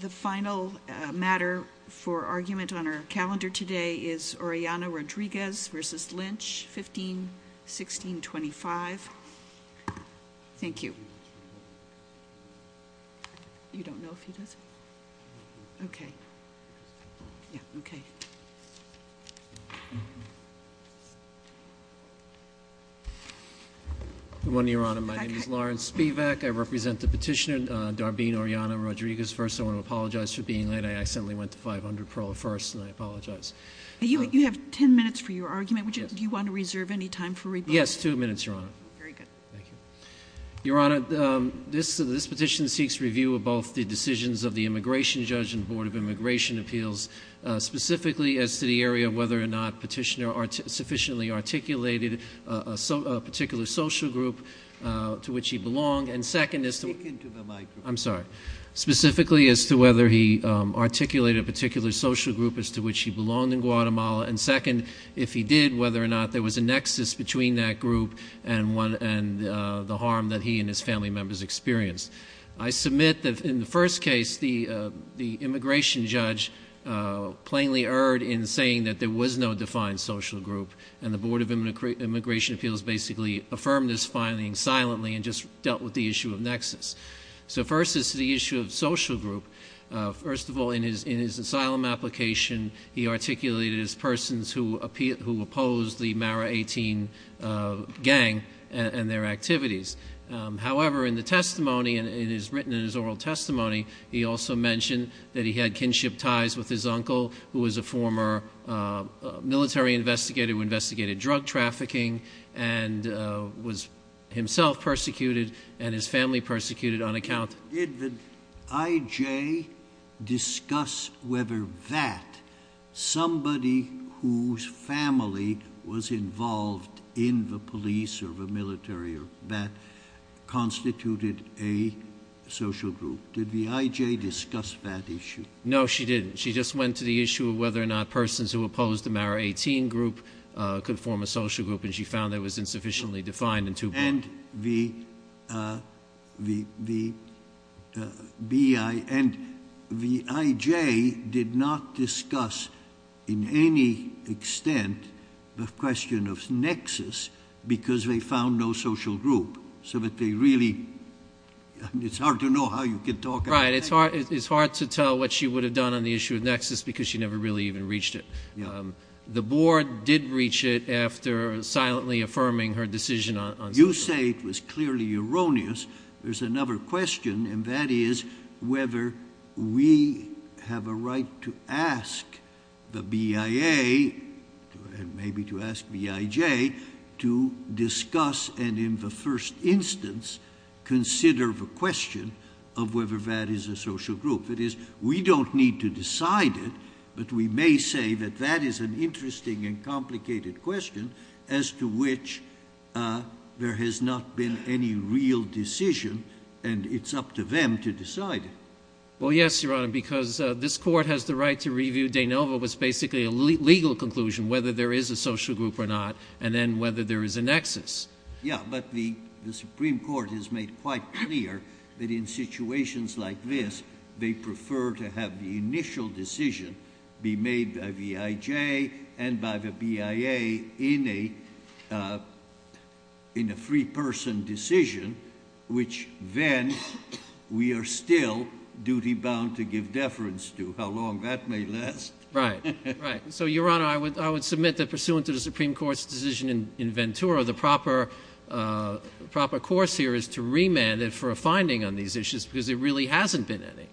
The final matter for argument on our calendar today is Orellana-Rodriguez v. Lynch, 15-1625. Thank you. You don't know if he does? Okay. Yeah, okay. Good morning, Your Honor. My name is Lawrence Spivak. I represent the petitioner, Darbene Orellana-Rodriguez. First, I want to apologize for being late. I accidentally went to 500 Perla first, and I apologize. You have 10 minutes for your argument. Yes. Do you want to reserve any time for rebuttal? Yes, two minutes, Your Honor. Very good. Thank you. Your Honor, this petition seeks review of both the decisions of the Immigration Judge and the Board of Immigration Appeals, specifically as to the area of whether or not Petitioner sufficiently articulated a particular social group to which he belonged. And second is to— Speak into the microphone. I'm sorry. Specifically as to whether he articulated a particular social group as to which he belonged in Guatemala. And second, if he did, whether or not there was a nexus between that group and the harm that he and his family members experienced. I submit that in the first case, the Immigration Judge plainly erred in saying that there was no defined social group, and the Board of Immigration Appeals basically affirmed this finding silently and just dealt with the issue of nexus. So first, as to the issue of social group, first of all, in his asylum application, he articulated as persons who opposed the Mara 18 gang and their activities. However, in the testimony, and it is written in his oral testimony, he also mentioned that he had kinship ties with his uncle, who was a former military investigator who investigated drug trafficking and was himself persecuted and his family persecuted on account— Did the I.J. discuss whether that somebody whose family was involved in the police or the military or that constituted a social group? Did the I.J. discuss that issue? No, she didn't. She just went to the issue of whether or not persons who opposed the Mara 18 group could form a social group, and she found that it was insufficiently defined in two parts. And the I.J. did not discuss in any extent the question of nexus because they found no social group. So that they really—it's hard to know how you can talk about that. Right, it's hard to tell what she would have done on the issue of nexus because she never really even reached it. The board did reach it after silently affirming her decision on social groups. You say it was clearly erroneous. There's another question, and that is whether we have a right to ask the BIA and maybe to ask B.I.J. to discuss and in the first instance consider the question of whether that is a social group. If it is, we don't need to decide it, but we may say that that is an interesting and complicated question as to which there has not been any real decision, and it's up to them to decide it. Well, yes, Your Honor, because this Court has the right to review. De Novo was basically a legal conclusion, whether there is a social group or not, and then whether there is a nexus. Yeah, but the Supreme Court has made quite clear that in situations like this, they prefer to have the initial decision be made by B.I.J. and by the BIA in a free person decision, which then we are still duty-bound to give deference to, how long that may last. Right, right. So, Your Honor, I would submit that pursuant to the Supreme Court's decision in Ventura, the proper course here is to remand it for a finding on these issues because there really hasn't been any,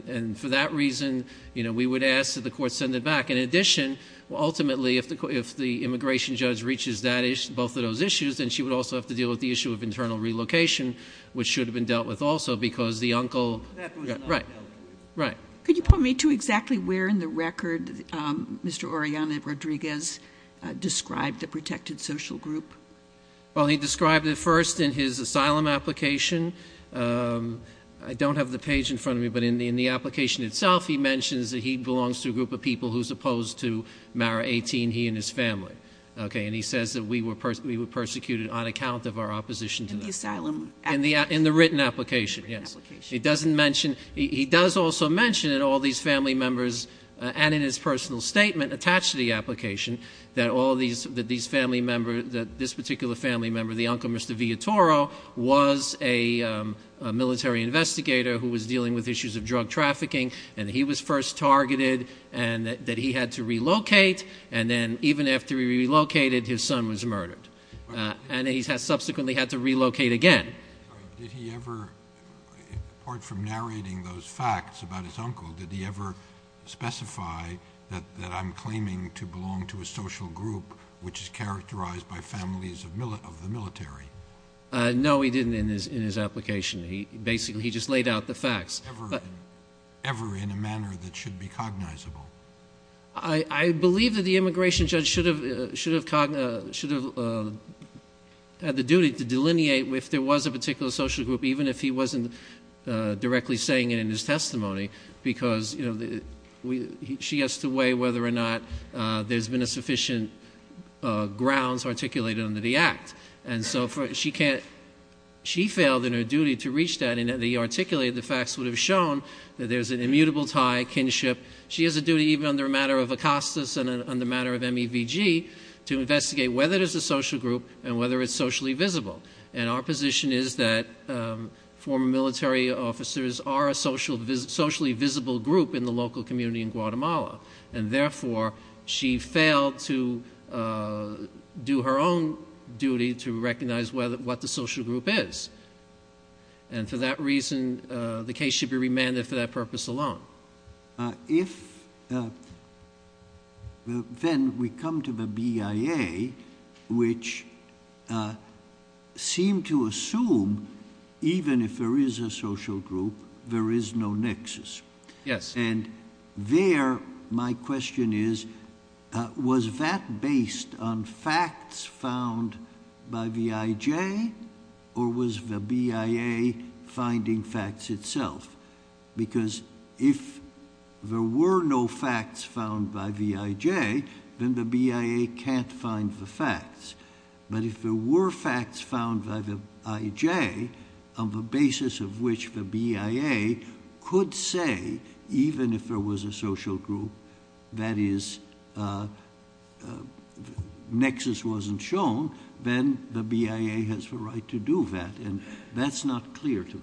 and for that reason, we would ask that the Court send it back. In addition, ultimately, if the immigration judge reaches both of those issues, then she would also have to deal with the issue of internal relocation, which should have been dealt with also because the uncle— That was not dealt with. Right, right. Could you point me to exactly where in the record Mr. Oriana Rodriguez described the protected social group? Well, he described it first in his asylum application. I don't have the page in front of me, but in the application itself, he mentions that he belongs to a group of people who is opposed to Mara 18, he and his family, okay? And he says that we were persecuted on account of our opposition to that. In the asylum application? In the written application, yes. In the written application. He doesn't mention—he does also mention in all these family members, and in his personal statement attached to the application, that all these family members, that this particular family member, the uncle Mr. Villatoro, was a military investigator who was dealing with issues of drug trafficking, and he was first targeted, and that he had to relocate, and then even after he relocated, his son was murdered. And he subsequently had to relocate again. Did he ever, apart from narrating those facts about his uncle, did he ever specify that I'm claiming to belong to a social group which is characterized by families of the military? No, he didn't in his application. Basically, he just laid out the facts. Ever in a manner that should be cognizable? I believe that the immigration judge should have had the duty to delineate if there was a particular social group, even if he wasn't directly saying it in his testimony, because she has to weigh whether or not there's been a sufficient grounds articulated under the Act. And so she failed in her duty to reach that, and the fact would have shown that there's an immutable tie, kinship. She has a duty, even under a matter of Acostas and under a matter of MEVG, to investigate whether there's a social group and whether it's socially visible. And our position is that former military officers are a socially visible group in the local community in Guatemala, and therefore she failed to do her own duty to recognize what the social group is. And for that reason, the case should be remanded for that purpose alone. If then we come to the BIA, which seemed to assume even if there is a social group, there is no nexus. Yes. And there, my question is, was that based on facts found by VIJ, or was the BIA finding facts itself? Because if there were no facts found by VIJ, then the BIA can't find the facts. But if there were facts found by the IJ, on the basis of which the BIA could say, even if there was a social group, that is, nexus wasn't shown, then the BIA has the right to do that. And that's not clear to me.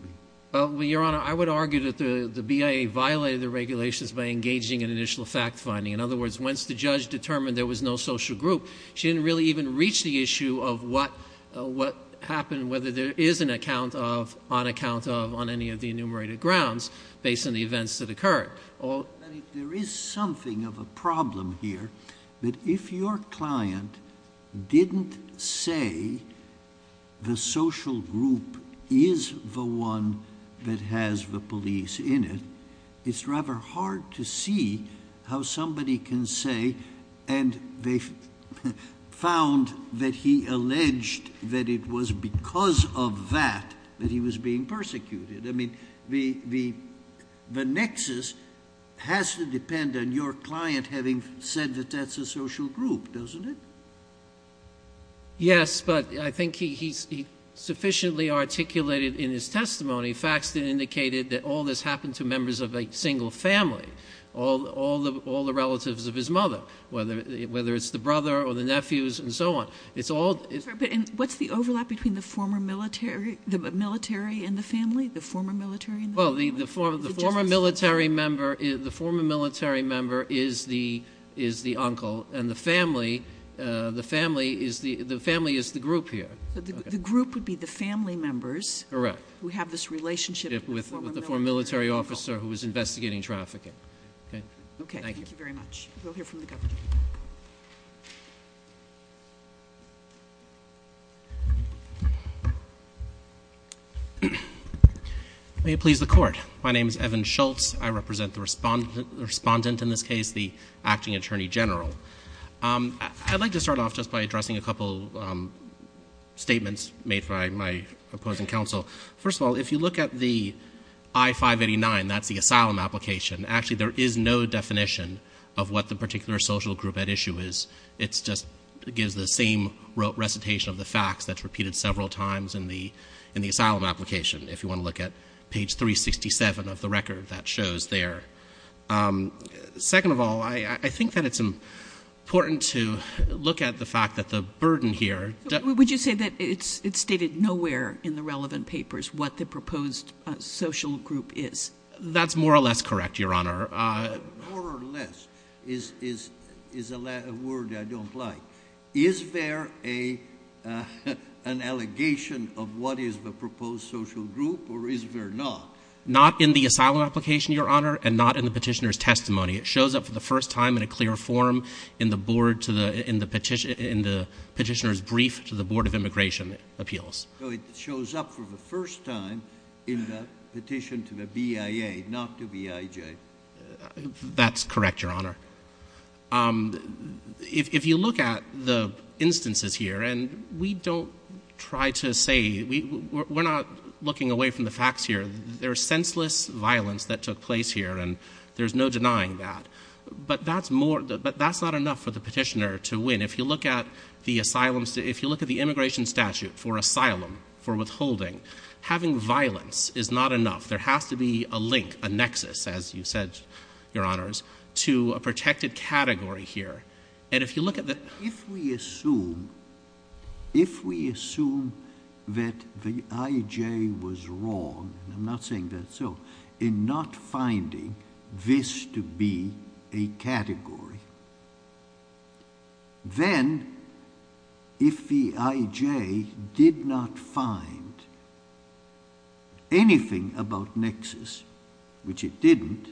Well, Your Honor, I would argue that the BIA violated the regulations by engaging in initial fact finding. In other words, once the judge determined there was no social group, she didn't really even reach the issue of what happened, whether there is an account of, on account of, on any of the enumerated grounds based on the events that occurred. There is something of a problem here, that if your client didn't say the social group is the one that has the police in it, it's rather hard to see how somebody can say, and they found that he alleged that it was because of that that he was being persecuted. I mean, the nexus has to depend on your client having said that that's a social group, doesn't it? Yes, but I think he sufficiently articulated in his testimony facts that indicated that all this happened to members of a single family, all the relatives of his mother, whether it's the brother or the nephews and so on. What's the overlap between the former military and the family? The former military and the family? Well, the former military member is the uncle, and the family is the group here. The group would be the family members- Who have this relationship with the former military uncle. With the former military officer who was investigating trafficking. Okay, thank you. Okay, thank you very much. We'll hear from the governor. May it please the court. My name is Evan Schultz. I represent the respondent in this case, the acting attorney general. I'd like to start off just by addressing a couple statements made by my opposing counsel. First of all, if you look at the I-589, that's the asylum application, actually there is no definition of what the particular social group at issue is. It just gives the same recitation of the facts that's repeated several times in the asylum application. If you want to look at page 367 of the record, that shows there. Second of all, I think that it's important to look at the fact that the burden here- Would you say that it's stated nowhere in the relevant papers what the proposed social group is? That's more or less correct, Your Honor. More or less is a word I don't like. Is there an allegation of what is the proposed social group, or is there not? Not in the asylum application, Your Honor, and not in the petitioner's testimony. It shows up for the first time in a clear form in the petitioner's brief to the Board of Immigration Appeals. So it shows up for the first time in the petition to the BIA, not to BIJ. That's correct, Your Honor. If you look at the instances here, and we don't try to say- We're not looking away from the facts here. There's senseless violence that took place here, and there's no denying that. But that's not enough for the petitioner to win. If you look at the immigration statute for asylum, for withholding, having violence is not enough. There has to be a link, a nexus, as you said, Your Honors, to a protected category here. And if you look at the- If we assume that the IJ was wrong, and I'm not saying that's so, in not finding this to be a category, then if the IJ did not find anything about nexus, which it didn't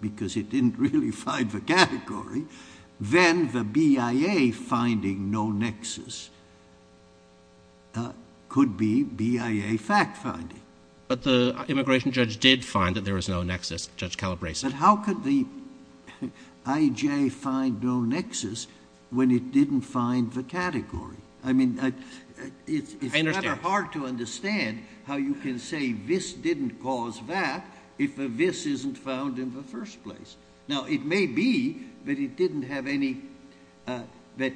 because it didn't really find the category, then the BIA finding no nexus could be BIA fact-finding. But the immigration judge did find that there was no nexus, Judge Calabresi. But how could the IJ find no nexus when it didn't find the category? I mean, it's never hard to understand how you can say this didn't cause that if this isn't found in the first place. Now, it may be that it didn't have any- that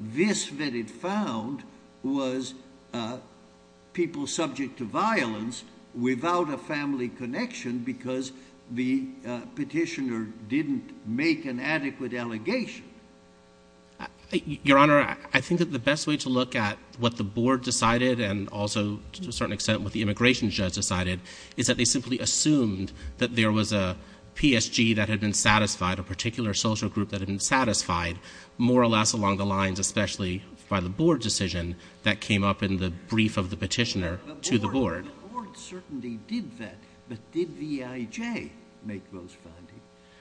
this that it found was people subject to violence without a family connection because the petitioner didn't make an adequate allegation. Your Honor, I think that the best way to look at what the board decided and also, to a certain extent, what the immigration judge decided is that they simply assumed that there was a PSG that had been satisfied, a particular social group that had been satisfied, more or less along the lines, especially by the board decision that came up in the brief of the petitioner to the board. The board certainly did that, but did the IJ make those findings?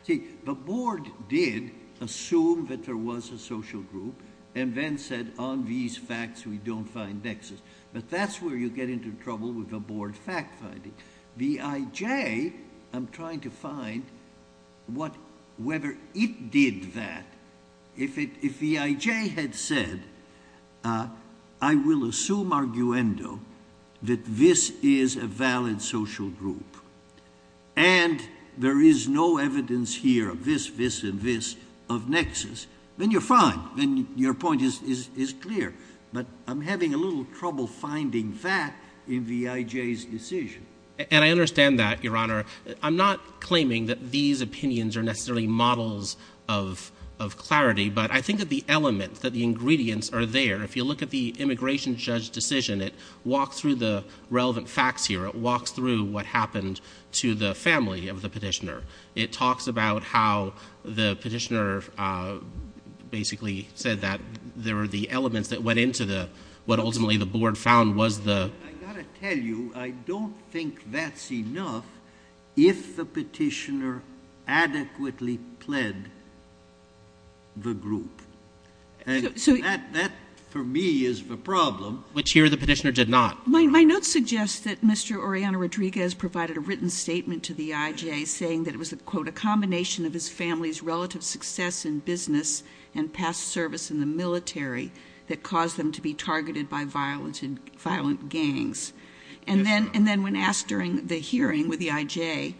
See, the board did assume that there was a social group and then said, on these facts, we don't find nexus. But that's where you get into trouble with the board fact finding. The IJ, I'm trying to find whether it did that. If the IJ had said, I will assume arguendo that this is a valid social group and there is no evidence here of this, this, and this of nexus, then you're fine, then your point is clear. But I'm having a little trouble finding that in the IJ's decision. And I understand that, Your Honor. I'm not claiming that these opinions are necessarily models of clarity, but I think that the element, that the ingredients are there. If you look at the immigration judge decision, it walks through the relevant facts here. It walks through what happened to the family of the petitioner. It talks about how the petitioner basically said that there were the elements that went into what ultimately the board found was the. I've got to tell you, I don't think that's enough if the petitioner adequately pled the group. And that, for me, is the problem. Which here the petitioner did not. My notes suggest that Mr. Oriana Rodriguez provided a written statement to the IJ saying that it was a, quote, a combination of his family's relative success in business and past service in the military that caused them to be targeted by violent gangs. And then when asked during the hearing with the IJ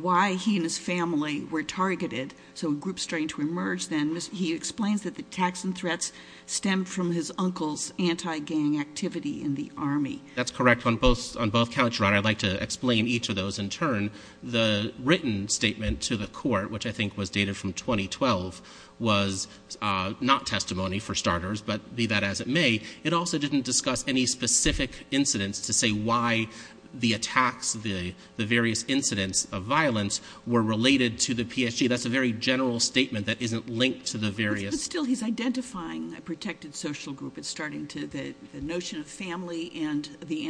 why he and his family were targeted, so groups starting to emerge then, he explains that the attacks and threats stemmed from his uncle's anti-gang activity in the Army. That's correct. On both counts, Your Honor, I'd like to explain each of those. In turn, the written statement to the court, which I think was dated from 2012, was not testimony, for starters, but be that as it may. It also didn't discuss any specific incidents to say why the attacks, the various incidents of violence, were related to the PSG. That's a very general statement that isn't linked to the various. But still, he's identifying a protected social group. It's starting to, the notion of family and the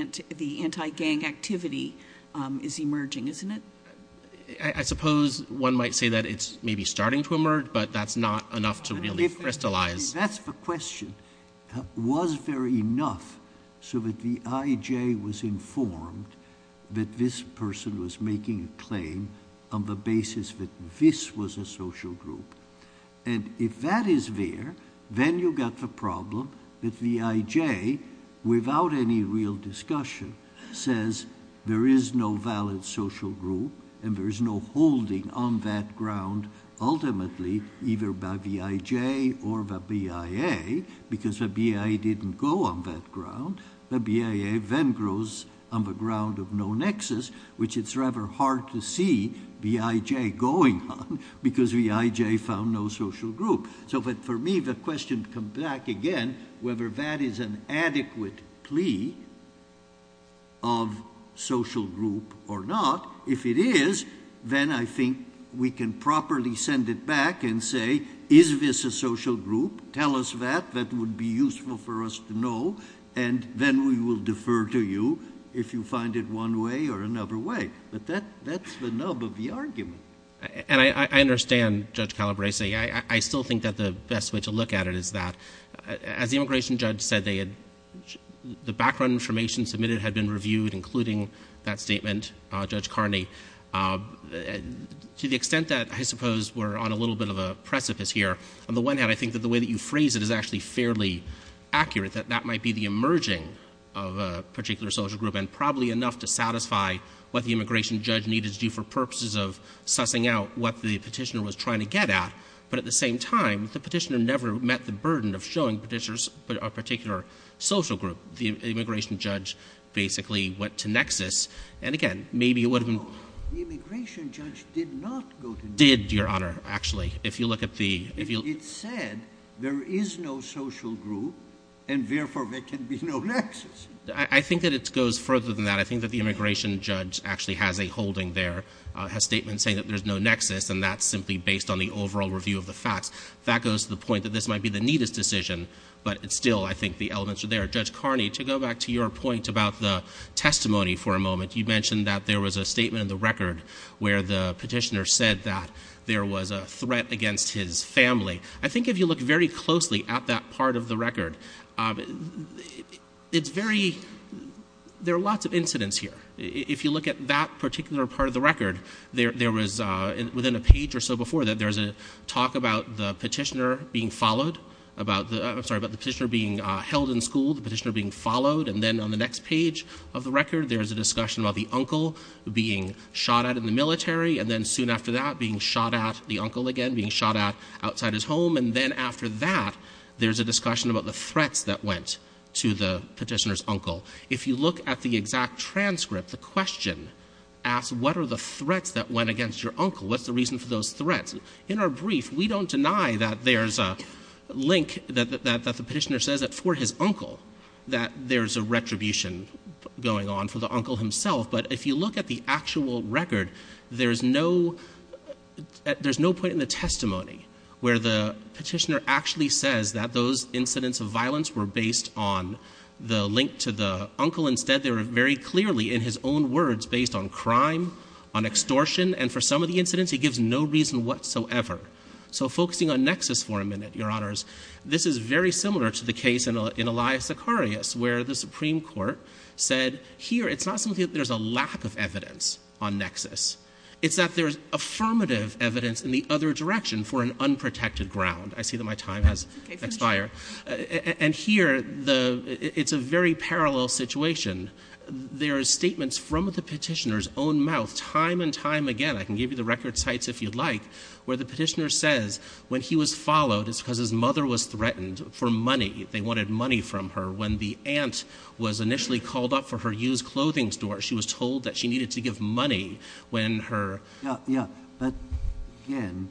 anti-gang activity is emerging, isn't it? I suppose one might say that it's maybe starting to emerge, but that's not enough to really crystallize. That's the question. Was there enough so that the IJ was informed that this person was making a claim on the basis that this was a social group? And if that is there, then you got the problem that the IJ, without any real discussion, says there is no valid social group and there is no holding on that ground ultimately either by the IJ or the BIA because the BIA didn't go on that ground. The BIA then grows on the ground of no nexus, which it's rather hard to see the IJ going on because the IJ found no social group. So for me, the question comes back again whether that is an adequate plea of social group or not. If it is, then I think we can properly send it back and say, is this a social group? Tell us that. That would be useful for us to know. And then we will defer to you if you find it one way or another way. But that's the nub of the argument. And I understand, Judge Calabresi. I still think that the best way to look at it is that, as the immigration judge said, the background information submitted had been reviewed, including that statement, Judge Carney. To the extent that I suppose we're on a little bit of a precipice here, on the one hand, I think that the way that you phrase it is actually fairly accurate, that that might be the emerging of a particular social group and probably enough to satisfy what the immigration judge needed to do for purposes of sussing out what the Petitioner was trying to get at. But at the same time, the Petitioner never met the burden of showing Petitioners a particular social group. The immigration judge basically went to nexus. And again, maybe it would have been — No, the immigration judge did not go to nexus. Did, Your Honor, actually, if you look at the — It said there is no social group, and therefore there can be no nexus. I think that it goes further than that. I think that the immigration judge actually has a holding there, has statements saying that there's no nexus, and that's simply based on the overall review of the facts. That goes to the point that this might be the neatest decision, but still, I think the elements are there. Judge Carney, to go back to your point about the testimony for a moment, you mentioned that there was a statement in the record where the Petitioner said that there was a threat against his family. I think if you look very closely at that part of the record, it's very — there are lots of incidents here. If you look at that particular part of the record, there was, within a page or so before that, there was a talk about the Petitioner being followed, about the — I'm sorry, about the Petitioner being held in school, the Petitioner being followed, and then on the next page of the record, there's a discussion about the uncle being shot at in the military, and then soon after that, being shot at, the uncle again being shot at outside his home, and then after that, there's a discussion about the threats that went to the Petitioner's uncle. If you look at the exact transcript, the question asks, what are the threats that went against your uncle? What's the reason for those threats? In our brief, we don't deny that there's a link, that the Petitioner says that for his uncle, that there's a retribution going on for the uncle himself, but if you look at the actual record, there's no — there's no point in the testimony where the Petitioner actually says that those incidents of violence were based on the link to the uncle. Instead, they were very clearly, in his own words, based on crime, on extortion, and for some of the incidents, he gives no reason whatsoever. So focusing on Nexus for a minute, Your Honors, this is very similar to the case in Elias Sicarius, where the Supreme Court said, here, it's not something that there's a lack of evidence on Nexus. It's that there's affirmative evidence in the other direction for an unprotected ground. I see that my time has expired. And here, it's a very parallel situation. There are statements from the Petitioner's own mouth time and time again. I can give you the record sites if you'd like, where the Petitioner says when he was followed, it's because his mother was threatened for money. They wanted money from her. When the aunt was initially called up for her used clothing store, she was told that she needed to give money when her— Yeah, yeah. But again,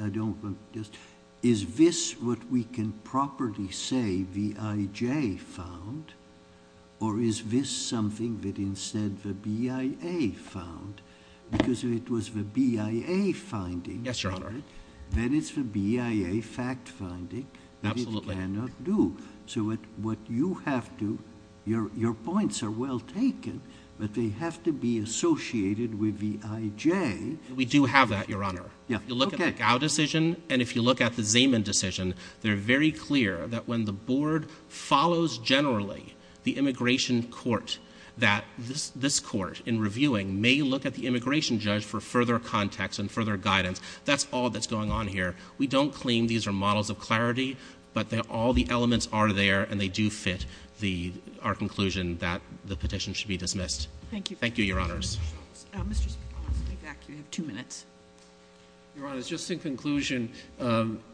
I don't—is this what we can properly say V.I.J. found, or is this something that instead the B.I.A. found? Because if it was the B.I.A. finding— Yes, Your Honor. Then it's the B.I.A. fact finding that it cannot do. So what you have to—your points are well taken, but they have to be associated with V.I.J. We do have that, Your Honor. If you look at the Gao decision and if you look at the Zeman decision, they're very clear that when the board follows generally the immigration court, that this court in reviewing may look at the immigration judge for further context and further guidance. That's all that's going on here. We don't claim these are models of clarity, but all the elements are there, and they do fit our conclusion that the petition should be dismissed. Thank you. Thank you, Your Honors. Mr. Schultz. Mr. Schultz, I'll ask you to step back. You have two minutes. Your Honors, just in conclusion,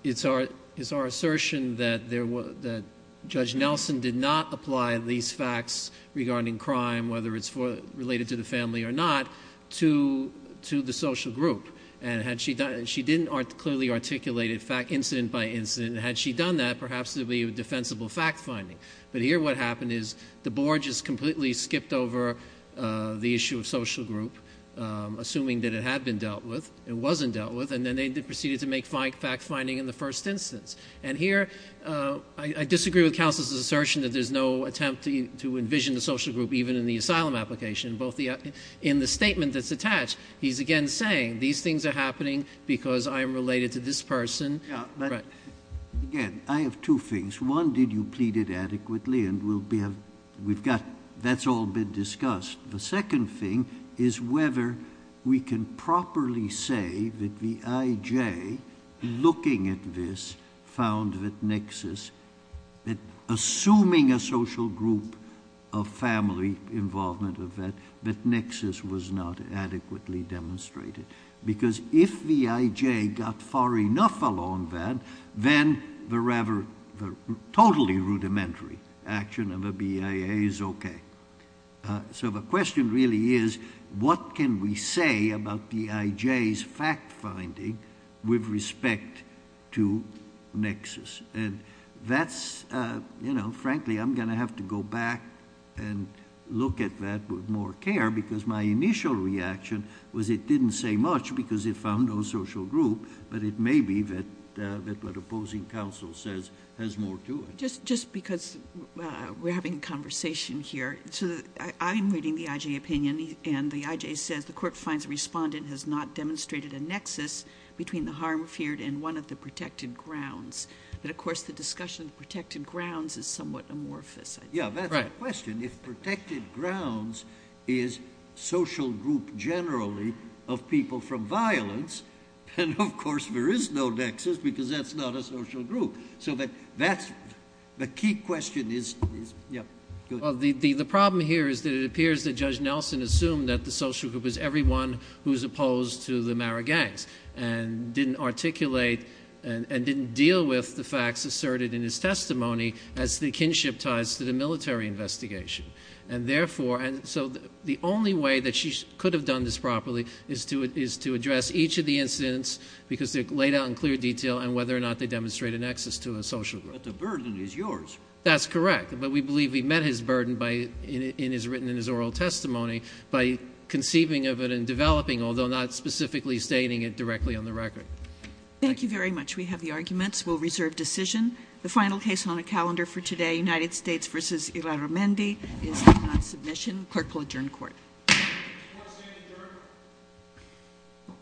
it's our assertion that Judge Nelson did not apply these facts regarding crime, whether it's related to the family or not, to the social group. And she didn't clearly articulate it incident by incident. Had she done that, perhaps there would be a defensible fact finding. But here what happened is the board just completely skipped over the issue of social group, assuming that it had been dealt with. It wasn't dealt with, and then they proceeded to make fact finding in the first instance. And here I disagree with counsel's assertion that there's no attempt to envision the social group even in the asylum application. In the statement that's attached, he's again saying these things are happening because I'm related to this person. Again, I have two things. One, did you plead it adequately? And we've got that's all been discussed. The second thing is whether we can properly say that the IJ, looking at this, found that Nexus, assuming a social group of family involvement of that, that Nexus was not adequately demonstrated. Because if the IJ got far enough along that, then the totally rudimentary action of a BIA is okay. So the question really is what can we say about the IJ's fact finding with respect to Nexus? And that's, you know, frankly, I'm going to have to go back and look at that with more care because my initial reaction was it didn't say much because it found no social group, but it may be that what opposing counsel says has more to it. Just because we're having a conversation here, I'm reading the IJ opinion, and the IJ says the court finds the respondent has not demonstrated a Nexus between the harm feared and one of the protected grounds. But, of course, the discussion of protected grounds is somewhat amorphous. Yeah, that's the question. If protected grounds is social group generally of people from violence, then, of course, there is no Nexus because that's not a social group. So that's the key question. The problem here is that it appears that Judge Nelson assumed that the social group was everyone who's opposed to the Mara gangs and didn't articulate and didn't deal with the facts asserted in his testimony as the kinship ties to the military investigation. And, therefore, so the only way that she could have done this properly is to address each of the incidents because they're laid out in clear detail and whether or not they demonstrate a Nexus to a social group. But the burden is yours. That's correct, but we believe he met his burden written in his oral testimony by conceiving of it and developing, although not specifically stating it directly on the record. Thank you very much. We have the arguments. We'll reserve decision. The final case on the calendar for today, United States v. Ilarumendi, is not submission. Clerk will adjourn court. Court is adjourned.